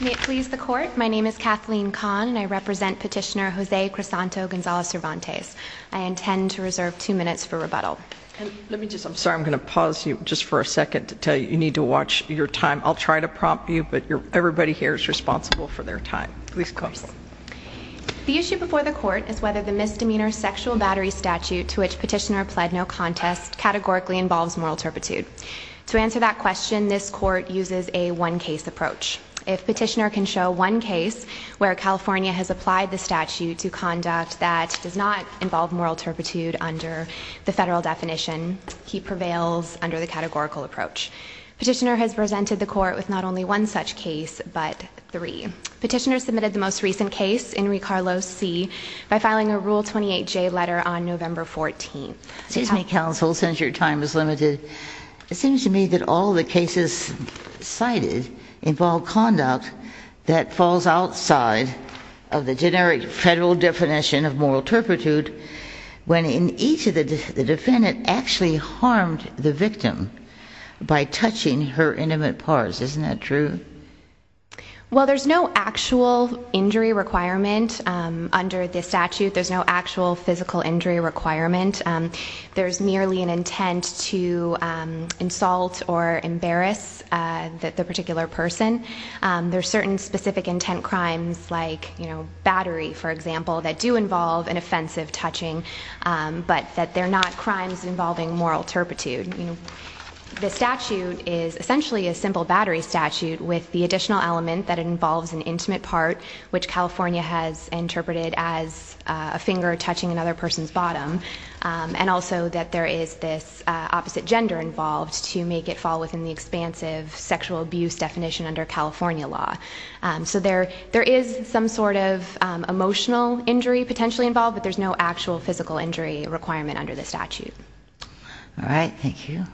May it please the Court, my name is Kathleen Kahn and I represent Petitioner Jose Crisanto Gonzalez-Cervantes. I intend to reserve two minutes for rebuttal. Let me just, I'm sorry, I'm going to pause you just for a second to tell you you need to watch your time. I'll try to prompt you, but everybody here is responsible for their time. Please go ahead. The issue before the Court is whether the misdemeanor sexual battery statute to which Petitioner pled no contest categorically involves moral turpitude. To answer that question, this Court uses a one-case approach. If Petitioner can show one case where California has applied the statute to conduct that does not involve moral turpitude under the federal definition, he prevails under the categorical approach. Petitioner has presented the Court with not only one such case, but three. Petitioner submitted the most recent case, Henry Carlos C., by filing a Rule 28J letter on November 14. Excuse me, Counsel, since your time is limited, it seems to me that all the cases cited involve conduct that falls outside of the generic federal definition of moral turpitude when in each of the defendant actually harmed the victim by touching her intimate parts. Isn't that true? Well, there's no actual injury requirement under this statute. There's no actual physical There are certain specific intent crimes like battery, for example, that do involve an offensive touching, but that they're not crimes involving moral turpitude. The statute is essentially a simple battery statute with the additional element that it involves an intimate part, which California has interpreted as a finger touching another person's bottom, and also that there is this opposite gender involved to make it fall within the expansive sexual abuse definition under California law. So there is some sort of emotional injury potentially involved, but there's no actual physical injury requirement under the statute. All right, thank you.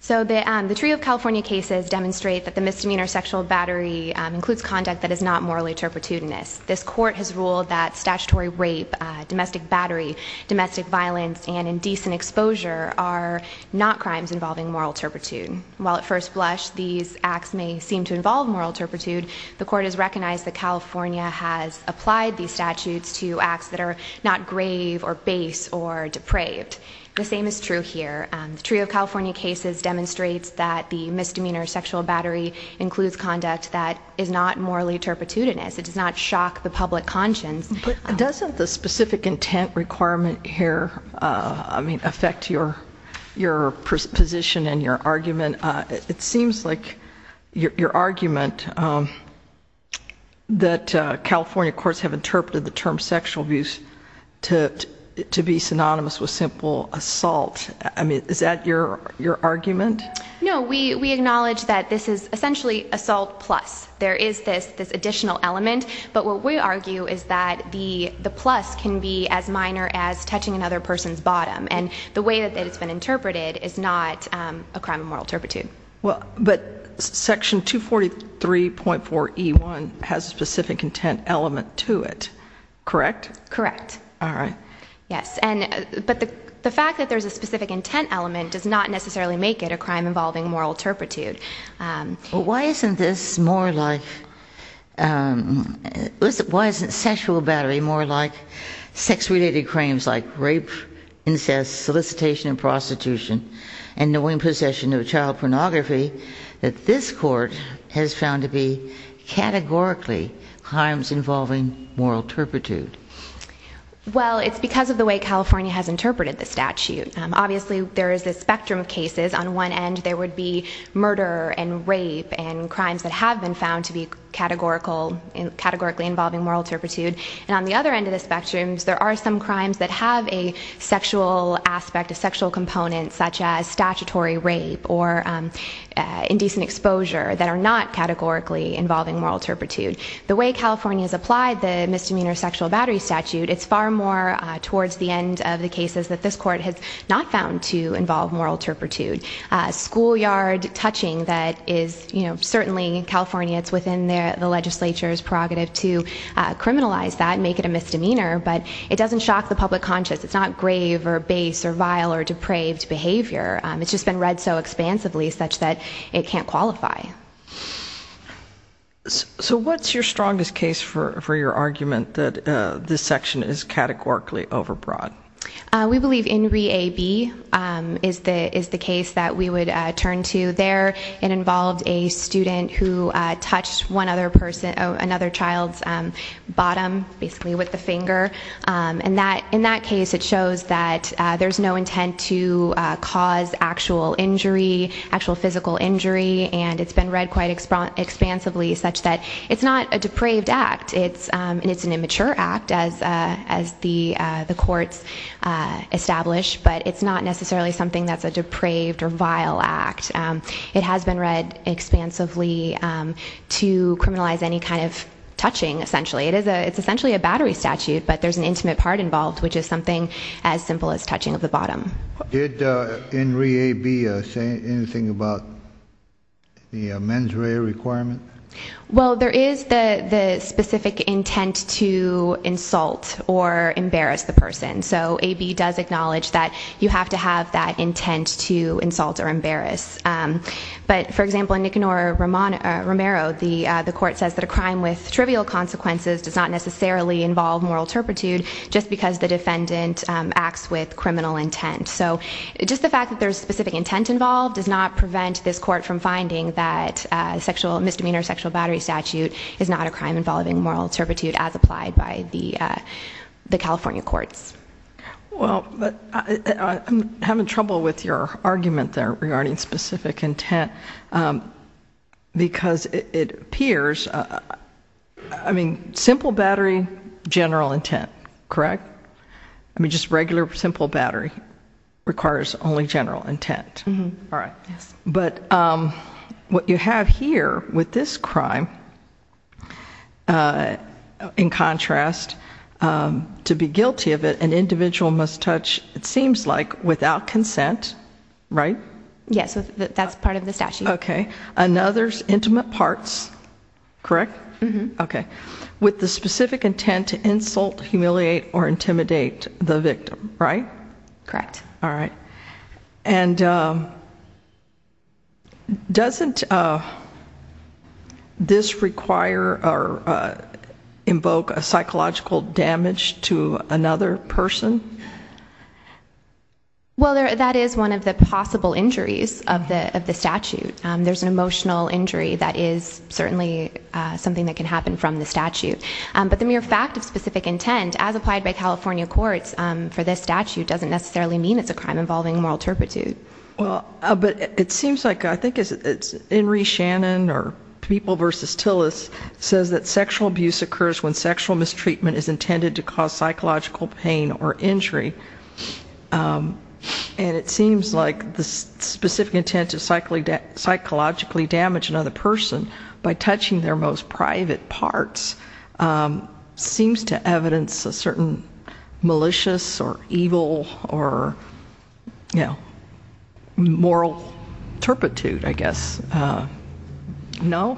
So the trio of California cases demonstrate that the misdemeanor sexual battery includes conduct that is not morally turpitudinous. This Court has ruled that statutory rape, domestic battery, domestic violence, and indecent exposure are not crimes involving moral turpitude. While at first blush, these acts may seem to involve moral turpitude, the Court has recognized that California has applied these statutes to acts that are not grave or base or depraved. The same is true here. The trio of California cases demonstrates that the misdemeanor sexual battery includes conduct that is not morally turpitudinous. It does not shock the public conscience. But doesn't the specific intent requirement here, I mean, affect your position and your argument? It seems like your argument that California courts have interpreted the term sexual abuse to be synonymous with simple assault. I mean, is that your argument? No, we acknowledge that this is essentially assault plus. There is this additional element. But what we argue is that the plus can be as minor as touching another person's bottom. And the way that it's been interpreted is not a crime of moral turpitude. Well, but section 243.4E1 has a specific intent element to it, correct? Correct. All right. Yes, and but the fact that there's a specific intent element does not necessarily make it a crime involving moral turpitude. Well, why isn't this more like, why isn't sexual battery more like sex-related crimes like rape, incest, solicitation, and prostitution, and knowing possession of child pornography, that this court has found to be categorically crimes involving moral turpitude? Well, it's because of the way California has interpreted the statute. Obviously, there is a spectrum of cases. On one end, there would be murder and rape and crimes that have been found to be categorical, categorically involving moral turpitude. And on the other end of the spectrum, there are some crimes that have a sexual aspect, a sexual component, such as statutory rape or indecent exposure that are not categorically involving moral turpitude. The way California has applied the misdemeanor sexual battery statute, it's far more towards the end of the cases that this court has not found to involve moral turpitude. Schoolyard touching that is, you know, certainly in California, it's within the legislature's prerogative to criminalize that, make it a misdemeanor, but it doesn't shock the public conscience. It's not grave or base or vile or depraved behavior. It's just been read so expansively such that it can't qualify. So what's your strongest case for your argument that this section is categorically overbroad? We believe In Re A B is the case that we would turn to there. It involved a student who touched another child's bottom, basically with the finger. In that case, it shows that there's no intent to cause actual injury, actual physical injury, and it's been read quite expansively such that it's not a depraved act. It's an immature act, as the courts establish, but it's not necessarily something that's a depraved or vile act. It has been read expansively to criminalize any kind of touching, essentially. It's essentially a battery statute, but there's an intimate part involved, which is something as simple as touching of the bottom. Did In Re A B say anything about the mens rea requirement? Well, there is the specific intent to insult or embarrass the defendant. But for example, in Nicanor Romero, the court says that a crime with trivial consequences does not necessarily involve moral turpitude just because the defendant acts with criminal intent. So just the fact that there's specific intent involved does not prevent this court from finding that sexual misdemeanor, sexual battery statute is not a crime involving moral turpitude as applied by the California courts. Well, I'm having trouble with your argument there regarding specific intent because it appears, I mean, simple battery, general intent, correct? I mean, just regular simple battery requires only general intent. All right. Yes. But what you have here with this crime, in contrast, to be guilty of it, an individual must touch, it seems like, without consent, right? Yes. That's part of the statute. Okay. Another's intimate parts, correct? Okay. With the specific intent to insult, humiliate, or intimidate the victim, right? Correct. All right. And doesn't this require or invoke a psychological damage to another person? Well, that is one of the possible injuries of the statute. There's an emotional injury that is certainly something that can happen from the statute. But the mere fact of specific intent, as applied by California courts for this statute, doesn't necessarily mean it's a crime involving moral turpitude. Well, but it seems like, I think it's Henry Shannon or People v. Tillis says that sexual abuse occurs when sexual mistreatment is intended to cause psychological pain or injury. And it seems like the specific intent to psychologically damage another person by touching their most private parts seems to evidence a certain malicious or evil or, you know, moral turpitude, I guess. No?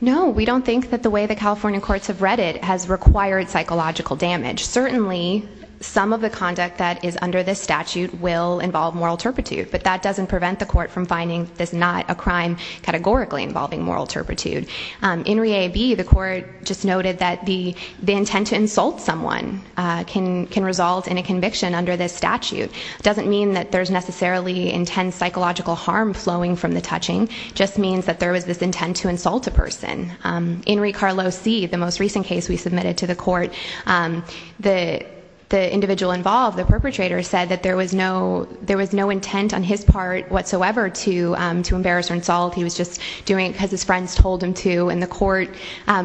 No. We don't think that the way the California courts have read it has required psychological damage. Certainly, some of the conduct that is under this statute will involve moral turpitude, but that doesn't prevent the court from finding this not a crime categorically involving moral turpitude. In re A, B, the court just noted that the intent to insult someone can result in a conviction under this statute. Doesn't mean that there's necessarily intense psychological harm flowing from the touching. Just means that there was this intent to insult a person. In re Carlos C, the most recent case we submitted to the court, the individual involved, the perpetrator, said that there was no intent on his part whatsoever to embarrass or insult. He was just doing it because his friends told him to, and the court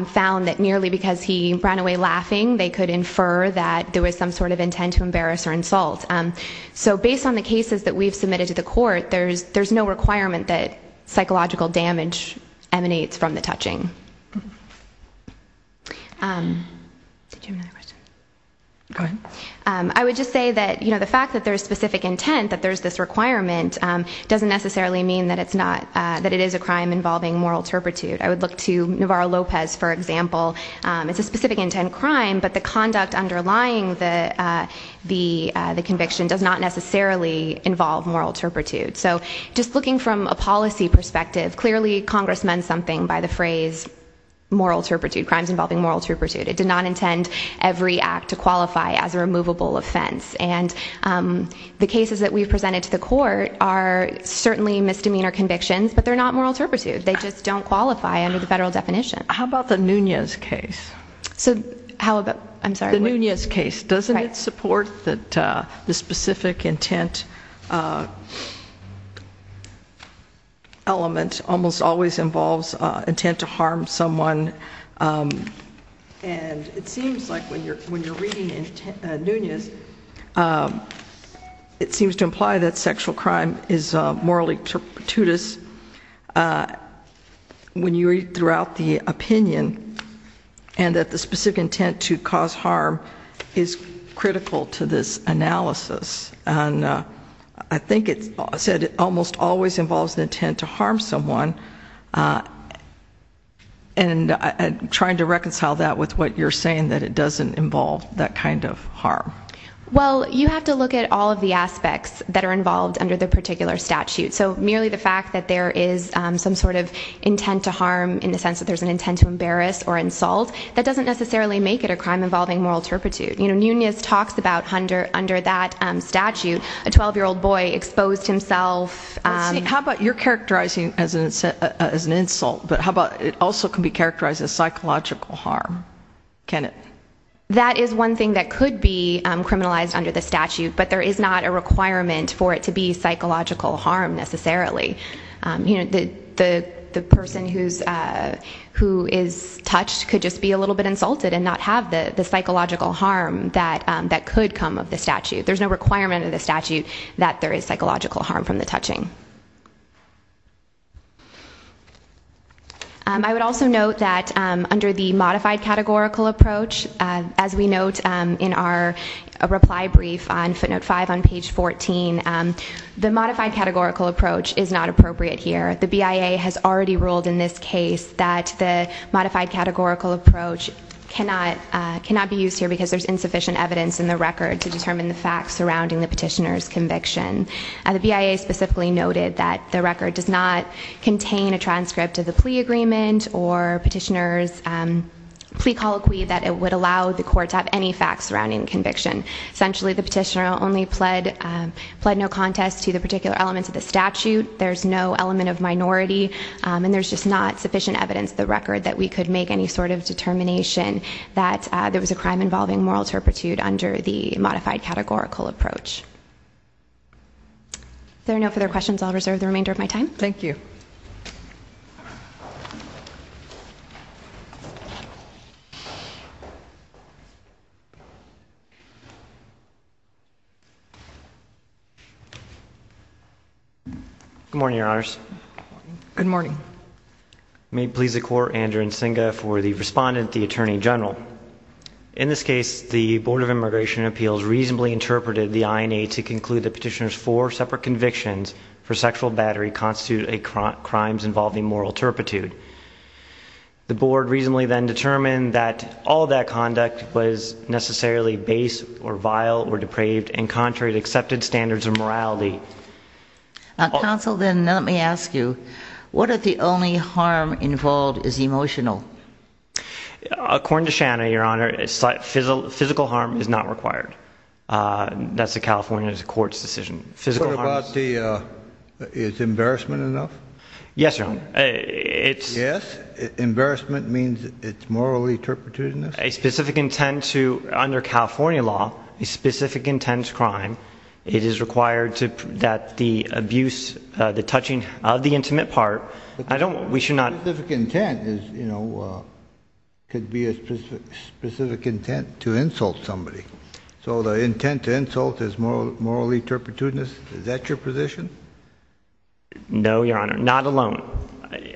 found that nearly because he ran away laughing, they could infer that there was some sort of intent to embarrass or insult. So based on the cases that we've submitted to the court, there's no requirement that psychological damage emanates from the touching. Did you have another question? Go ahead. I would just say that, you know, the fact that there's intent, that there's this requirement, doesn't necessarily mean that it's not, that it is a crime involving moral turpitude. I would look to Navarro Lopez, for example. It's a specific intent crime, but the conduct underlying the conviction does not necessarily involve moral turpitude. So just looking from a policy perspective, clearly Congress meant something by the phrase moral turpitude, crimes involving moral turpitude. It did not intend every act to qualify as a the cases that we've presented to the court are certainly misdemeanor convictions, but they're not moral turpitude. They just don't qualify under the federal definition. How about the Nunez case? So how about, I'm sorry. The Nunez case, doesn't it support that the specific intent element almost always involves intent to harm someone? And it seems like when you're reading Nunez, it seems to imply that sexual crime is morally turpitudous when you read throughout the opinion and that the specific intent to cause harm is critical to this analysis. And I think it said it almost always involves the intent to harm someone. And I'm trying to reconcile that with what you're saying, that it doesn't involve that kind of harm. Well, you have to look at all of the aspects that are involved under the particular statute. So merely the fact that there is some sort of intent to harm in the sense that there's an intent to embarrass or insult, that doesn't necessarily make it a crime involving moral turpitude. You know, exposed himself. How about you're characterizing as an insult, but how about it also can be characterized as psychological harm? Can it? That is one thing that could be criminalized under the statute, but there is not a requirement for it to be psychological harm necessarily. You know, the person who is touched could just be a little bit insulted and not have the that there is psychological harm from the touching. I would also note that under the modified categorical approach, as we note in our reply brief on footnote five on page 14, the modified categorical approach is not appropriate here. The BIA has already ruled in this case that the modified categorical approach cannot be used here because there's insufficient evidence in the record to determine the facts surrounding the The BIA specifically noted that the record does not contain a transcript of the plea agreement or petitioner's plea colloquy that it would allow the court to have any facts surrounding conviction. Essentially, the petitioner only pled no contest to the particular elements of the statute. There's no element of minority and there's just not sufficient evidence the record that we could make any sort of determination that there was a crime involving moral turpitude under the modified categorical approach. If there are no further questions, I'll reserve the remainder of my time. Thank you. Good morning, your honors. Good morning. May it please the court, Andrew Nsinga for the attorney general. In this case, the board of immigration appeals reasonably interpreted the INA to conclude the petitioner's four separate convictions for sexual battery constitute a crimes involving moral turpitude. The board reasonably then determined that all of that conduct was necessarily base or vile or depraved and contrary to accepted standards of morality. Counsel, then let me ask you, what if the only harm involved is emotional? According to Shanna, your honor, physical harm is not required. That's the California court's decision. What about the embarrassment enough? Yes, your honor. Yes. Embarrassment means it's morally turpitude. A specific intent to under California law, a specific intense crime. It is required to that the abuse, the touching of the specific intent to insult somebody. So the intent to insult is morally turpitude. Is that your position? No, your honor. Not alone.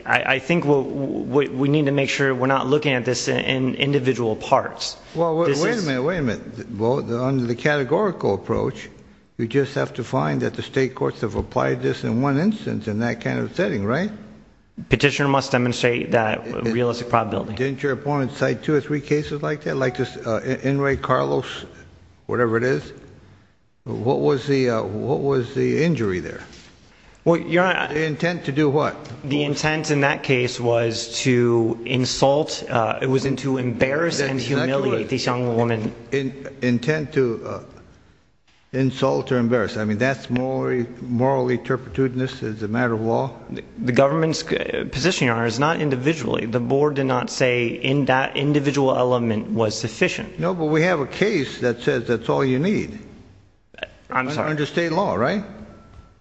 I think we need to make sure we're not looking at this in individual parts. Well, wait a minute. Wait a minute. Under the categorical approach, we just have to find that the state courts have applied this in one instance in that kind of setting, right? Petitioner must demonstrate that realistic probability. Didn't your opponent cite two or three cases like that? Like Enrique Carlos, whatever it is. What was the, what was the injury there? Well, your honor. The intent to do what? The intent in that case was to insult. It was to embarrass and humiliate this young woman. Intent to insult or embarrass. I mean, that's morally, morally turpitude. And this is a matter of law. The government's position, your honor, is not individually. The board did not say in that individual element was sufficient. No, but we have a case that says that's all you need. I'm sorry. Under state law, right?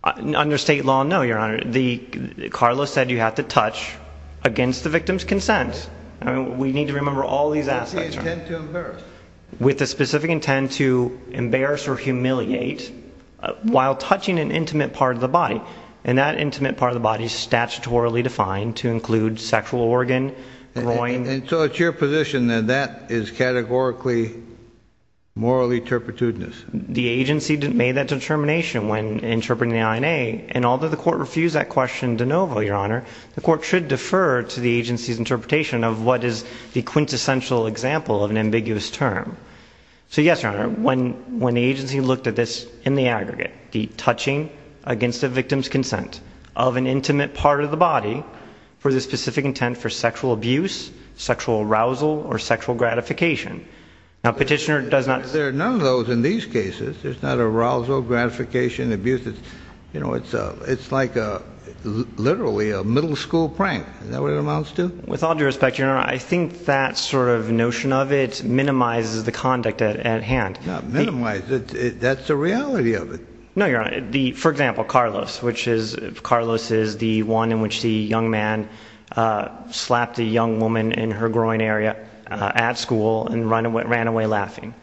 Under state law, no, your honor. The Carlos said you have to touch against the victim's consent. I mean, we need to remember all these aspects. With the specific intent to embarrass or humiliate while touching an intimate part of the body. And that intimate part of the body is statutorily defined to include sexual organ, groin. And so it's your position that that is categorically morally turpitudinous. The agency made that determination when interpreting the INA. And although the court refused that question de novo, your honor, the court should defer to the agency's interpretation of what is the quintessential example of an ambiguous term. So yes, your honor, when, when the agency looked at this in the aggregate, the touching against the victim's body for the specific intent for sexual abuse, sexual arousal, or sexual gratification. Now, petitioner does not. There are none of those in these cases. There's not arousal, gratification, abuse. It's, you know, it's a, it's like a literally a middle school prank. Is that what it amounts to? With all due respect, your honor, I think that sort of notion of it minimizes the conduct at hand. Not minimize it. That's the reality of it. No, your honor. The, for example, Carlos, which is Carlos is the one in which the young man slapped a young woman in her groin area at school and run away, ran away laughing.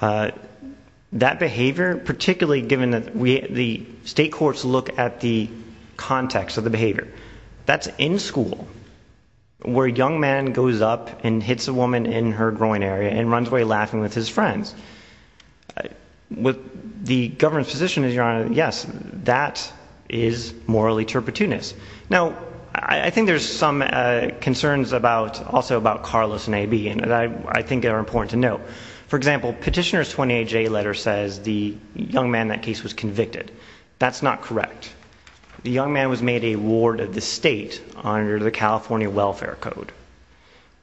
That behavior, particularly given that we, the state courts look at the context of the behavior that's in school where a young man goes up and hits a woman in her groin area and runs away laughing with his friends. I, with the government's position is your honor, yes, that is morally turpitunist. Now, I think there's some, uh, concerns about also about Carlos and A.B. and I, I think they're important to note. For example, petitioner's 28 J letter says the young man in that case was convicted. That's not correct. The young man was made a ward of the state under the California welfare code.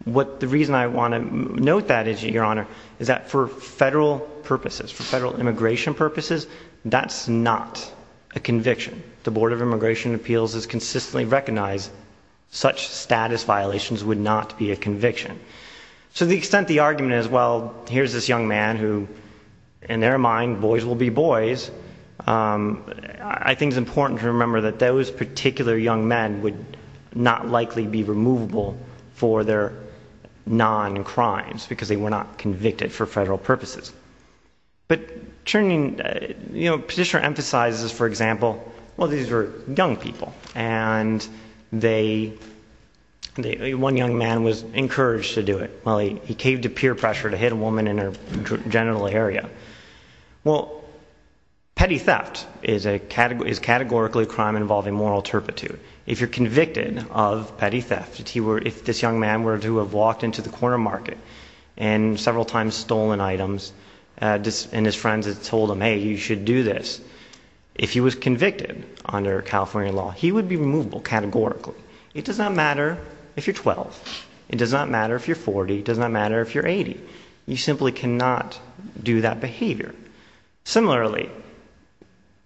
What, the reason I want to note that is your honor, is that for federal purposes, for federal immigration purposes, that's not a conviction. The board of immigration appeals has consistently recognized such status violations would not be a conviction. So the extent, the argument is, well, here's this young man who in their mind, boys will be boys. Um, I think it's important to remember that those particular young men would not likely be removable for their non-crimes because they were not convicted for federal purposes. But turning, uh, you know, petitioner emphasizes, for example, well, these were young people and they, they, one young man was encouraged to do it. Well, he, he caved to peer pressure to hit a woman in her genital area. Well, petty theft is a category, is categorically a crime involving moral turpitude. If you're convicted of petty theft, he were, if this young man were to have walked into the corner market and several times stolen items, uh, and his friends had told him, Hey, you should do this. If he was convicted under California law, he would be movable categorically. It does not matter if you're 12, it does not matter if you're 40, it does not matter if you're 80, you simply cannot do that behavior. Similarly,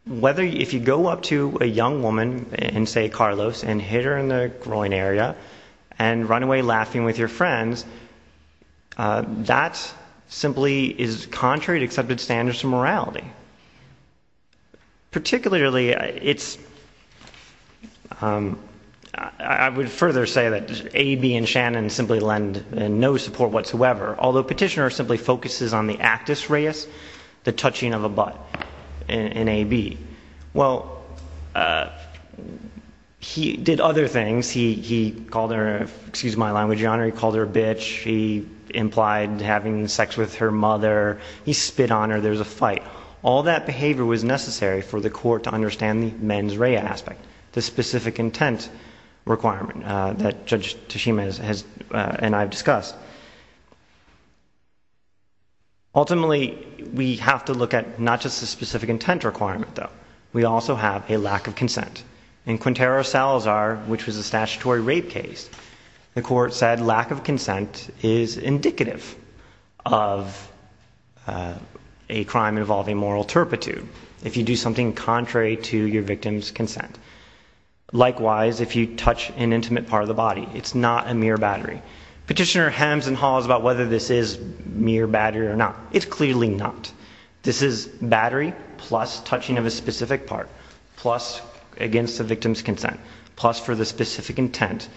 whether, if you go up to a young woman and say Carlos and hit her in the groin area and run away laughing with your friends, uh, that's simply is contrary to accepted standards of morality. Particularly, it's, um, I would further say that A, B and Shannon simply lend no support whatsoever. Although petitioner simply focuses on the actus reus, the touching of a butt. And A, B, well, uh, he did other things. He, he called her, excuse my language, your honor. He called her a bitch. She implied having sex with her mother. He spit on her. There's a fight. All that behavior was necessary for the court to understand the men's ray aspect, the specific intent requirement, uh, that judge Tashima has, has, uh, and I've discussed. Ultimately, we have to look at not just the specific intent requirement though. We also have a lack of consent in Quintero Salazar, which was a statutory rape case. The court said lack of consent is indicative of, uh, a crime involving moral turpitude. If you do something contrary to your victim's consent. Likewise, if you touch an intimate part of the body, it's not a mere battery. Petitioner hems and haws about whether this is mere battery or not. It's clearly not. This is battery plus touching of a specific part, plus against the victim's consent, plus for the specific intent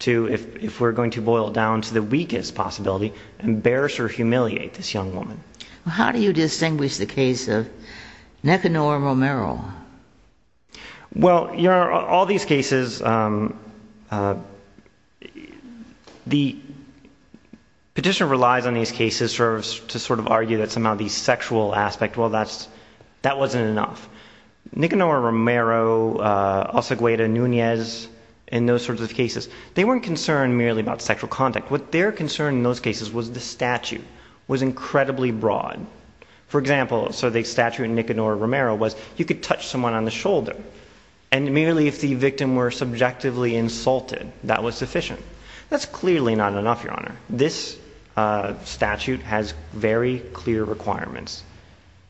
to, if we're going to boil down to the weakest possibility, embarrass or humiliate this young woman. Well, how do you distinguish the case of uh, the petitioner relies on these cases serves to sort of argue that somehow the sexual aspect, well, that's, that wasn't enough. Nicanor Romero, uh, also Guida Nunez in those sorts of cases, they weren't concerned merely about sexual contact. What they're concerned in those cases was the statute was incredibly broad. For example, so the statute in Nicanor Romero was you could touch someone on the shoulder and merely if the victim were subjectively insulted, that was sufficient. That's clearly not enough, Your Honor. This, uh, statute has very clear requirements.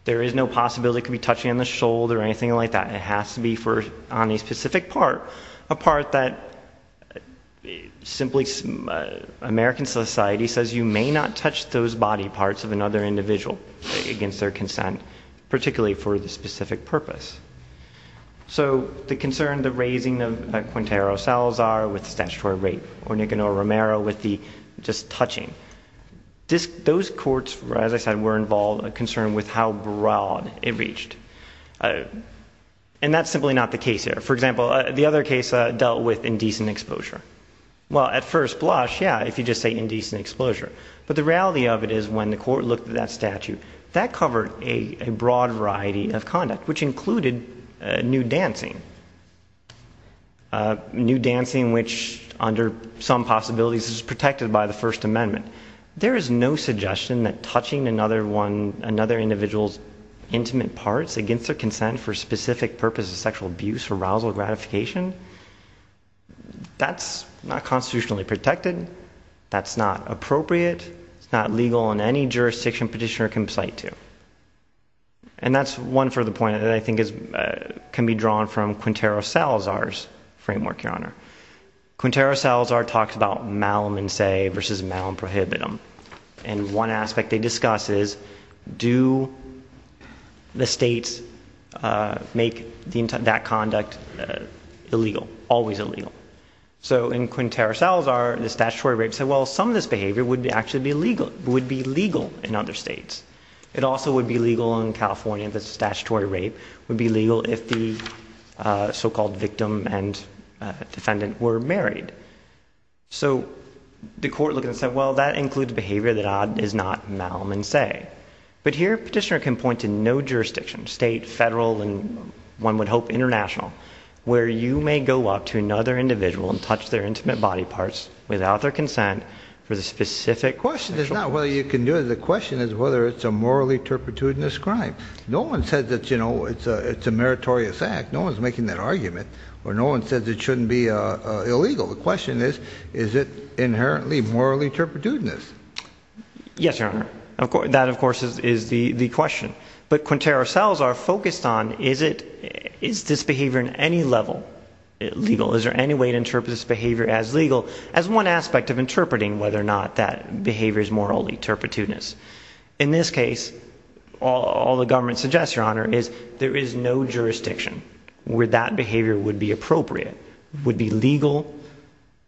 There is no possibility it could be touching on the shoulder or anything like that. It has to be for on a specific part, a part that simply, uh, American society says you may not touch those body parts of another individual against their consent, particularly for the specific purpose. So the concern, the raising of, uh, Quintero Salazar with statutory rape or Nicanor Romero with the just touching. This, those courts, as I said, were involved, a concern with how broad it reached. And that's simply not the case here. For example, the other case dealt with indecent exposure. Well, at first blush, yeah, if you just say indecent exposure, but the reality of it is when the court looked at that statute, that covered a broad variety of conduct, which included, uh, nude dancing, uh, nude dancing, which under some possibilities is protected by the First Amendment. There is no suggestion that touching another one, another individual's intimate parts against their consent for specific purposes, sexual abuse, arousal, gratification, that's not constitutionally protected. That's not appropriate. It's not legal in any jurisdiction petitioner can cite to. And that's one for the point that I think is, uh, can be drawn from Quintero Salazar's framework, your honor. Quintero Salazar talks about malum in se versus malum prohibitum. And one aspect they discuss is do the states, uh, make the, that conduct, uh, illegal, always illegal. So in Quintero Salazar, the statutory rape said, well, some of this behavior would be actually be legal, would be legal in other states. It also would be legal in California. The statutory rape would be legal if the, uh, so-called victim and, uh, defendant were married. So the court look and said, well, that includes behavior that is not malum in se. But here petitioner can point to no jurisdiction, state, federal, and one would hope international where you may go up to another individual and touch their intimate body parts without their consent for the specific question. It's not whether you can do it. The question is whether it's a morally turpitudinous crime. No one said that, you know, it's a, it's a meritorious act. No one's making that argument or no one says it shouldn't be a illegal. The question is, is it inherently morally turpitudinous? Yes, your honor. Of course, that of course is, is the, the question, but Quintero cells are focused on, is it, is this behavior in any level legal? Is there any way to interpret this behavior as legal as one aspect of interpreting whether or not that behavior is morally turpitudinous? In this case, all the government suggests your honor is there is no jurisdiction where that behavior would be appropriate, would be legal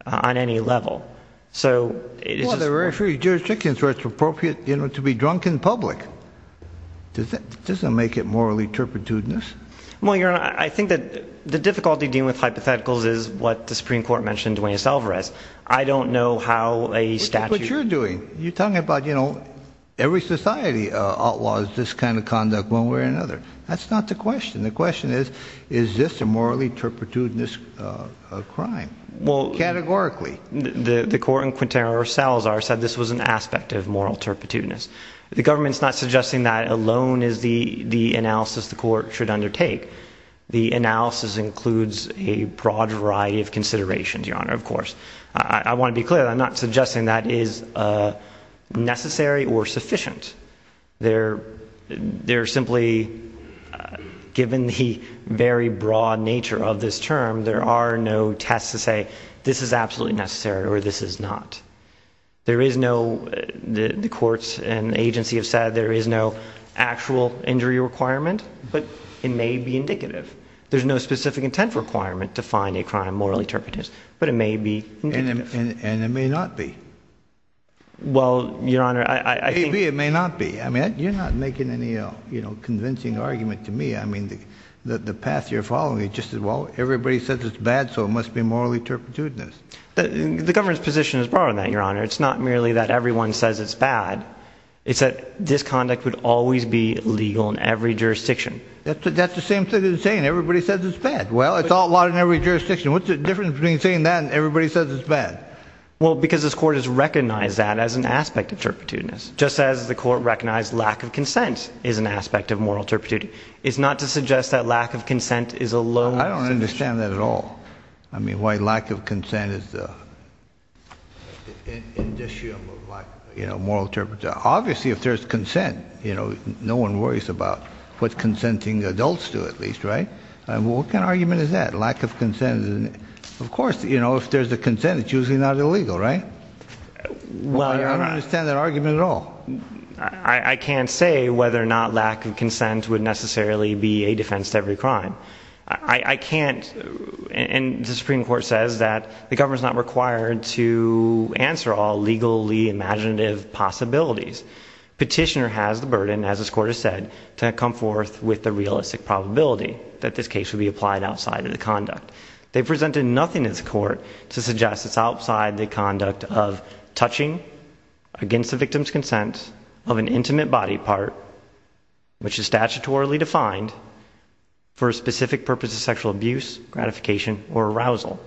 on any level. So it's appropriate, you know, to be drunk in public. Does that doesn't make it morally turpitudinous? Well, your honor, I think that the difficulty dealing with hypotheticals is what the Supreme Court mentioned when you solve arrest. I don't know how a statute you're doing. You're talking about, you know, every society outlaws this kind of conduct one way or another. That's not the question. The question is, is this a morally turpitudinous crime? Well, categorically, the court in Quintero cells are said this was an aspect of moral turpitudinous. The government's not suggesting that alone is the, the analysis the court should undertake. The analysis includes a broad variety of considerations. Your honor, of course, I want to be clear that I'm not suggesting that is a necessary or sufficient. They're, they're simply given the very broad nature of this term. There are no tests to say this is absolutely necessary or this is not. There is no, the courts and agency have said there is no actual injury requirement, but it may be indicative. There's no specific intent requirement to find a crime morally turpitudinous, but it may be, and it may not be. Well, your honor, I think it may not be. I mean, you're not making any, you know, convincing argument to me. I mean, the, the path you're following is just as well. Everybody says it's bad, so it must be morally turpitudinous. The government's position is broader than your honor. It's not merely that everyone says it's bad. It's that this conduct would always be legal in every jurisdiction. That's the, that's the same thing as saying everybody says it's bad. Well, it's all a lot in every jurisdiction. What's the difference between saying that and everybody says it's bad? Well, because this court has recognized that as aspect of turpitudinous, just as the court recognized lack of consent is an aspect of moral turpitudinous. It's not to suggest that lack of consent is a low... I don't understand that at all. I mean, why lack of consent is the indicium of like, you know, moral turpitudinous. Obviously, if there's consent, you know, no one worries about what consenting adults do, at least, right? And what kind of argument is that? Lack of consent, of course, you know, if there's a Well, I don't understand that argument at all. I can't say whether or not lack of consent would necessarily be a defense to every crime. I can't. And the Supreme Court says that the government's not required to answer all legally imaginative possibilities. Petitioner has the burden, as this court has said, to come forth with the realistic probability that this case would be applied outside of the conduct. They presented nothing in this court to suggest it's outside the conduct of touching against the victim's consent of an intimate body part, which is statutorily defined for a specific purpose of sexual abuse, gratification, or arousal.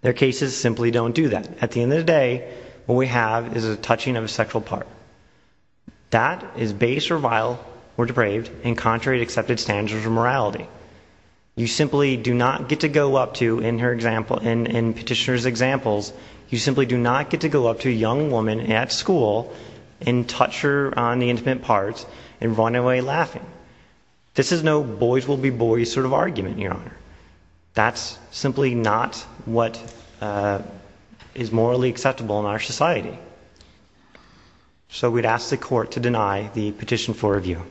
Their cases simply don't do that. At the end of the day, what we have is a touching of a sexual part. That is base or vile or depraved in contrary to accepted standards of morality. You simply do not get to go up to, in her example, in petitioner's examples, you simply do not get to go up to a young woman at school and touch her on the intimate parts and run away laughing. This is no boys will be boys sort of argument, Your Honor. That's simply not what is morally acceptable in our society. So we'd ask the court to deny the petition for review.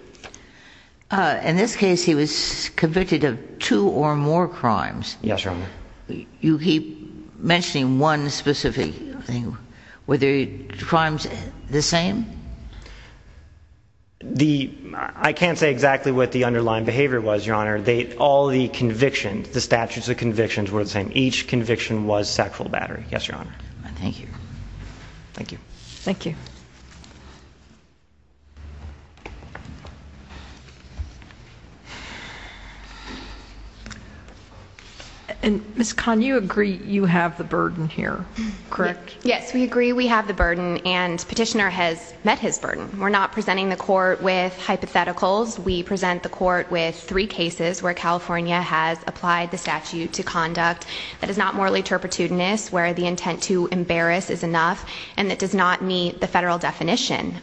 In this case, he was convicted of two or more crimes. Yes, Your Honor. You keep mentioning one specific thing. Were the crimes the same? I can't say exactly what the underlying behavior was, Your Honor. All the convictions, the statutes of convictions, were the same. Each conviction was sexual battery. Yes, Your Honor. Thank you. Thank you. Thank you. And Ms. Kahn, you agree you have the burden here, correct? Yes, we agree we have the burden and petitioner has met his burden. We're not presenting the court with hypotheticals. We present the court with three cases where California has applied the statute to conduct that is not morally turpitudinous, where the intent to embarrass is enough and that does not meet the federal definition.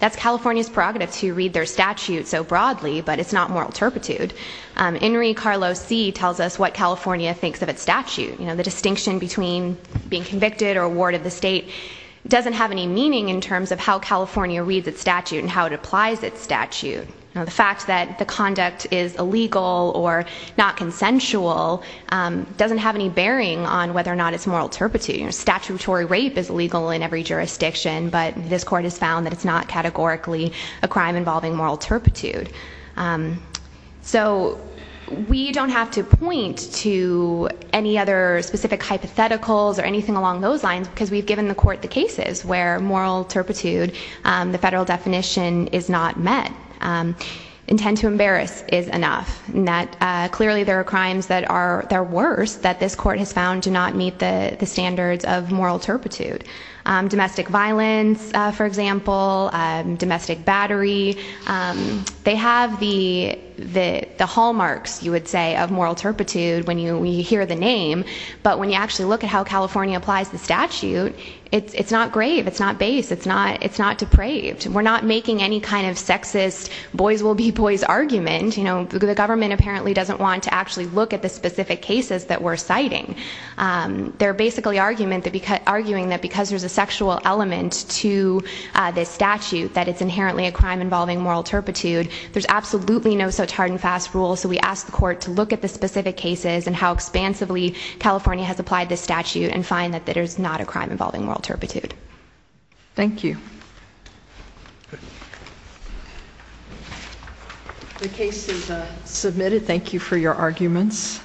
That's California's prerogative to read their statute so broadly, but it's not moral turpitude. Enrique Carlos C. tells us what California thinks of its statute. The distinction between being convicted or a ward of the state doesn't have any meaning in terms of how California reads its statute and how it applies its statute. The fact that the conduct is illegal or not consensual doesn't have any bearing on whether or not it's moral turpitude. Statutory rape is categorically a crime involving moral turpitude. So we don't have to point to any other specific hypotheticals or anything along those lines because we've given the court the cases where moral turpitude, the federal definition is not met. Intent to embarrass is enough. Clearly there are crimes that are worse that this court has found do not meet the standards of moral domestic battery. They have the hallmarks, you would say, of moral turpitude when you hear the name, but when you actually look at how California applies the statute, it's not grave, it's not base, it's not depraved. We're not making any kind of sexist boys will be boys argument. The government apparently doesn't want to actually look at the specific cases that we're citing. They're basically arguing that because there's a sexual element to this statute, that it's inherently a crime involving moral turpitude. There's absolutely no such hard and fast rule, so we ask the court to look at the specific cases and how expansively California has applied this statute and find that there's not a crime involving moral turpitude. Thank you. The case is submitted. Thank you for your arguments.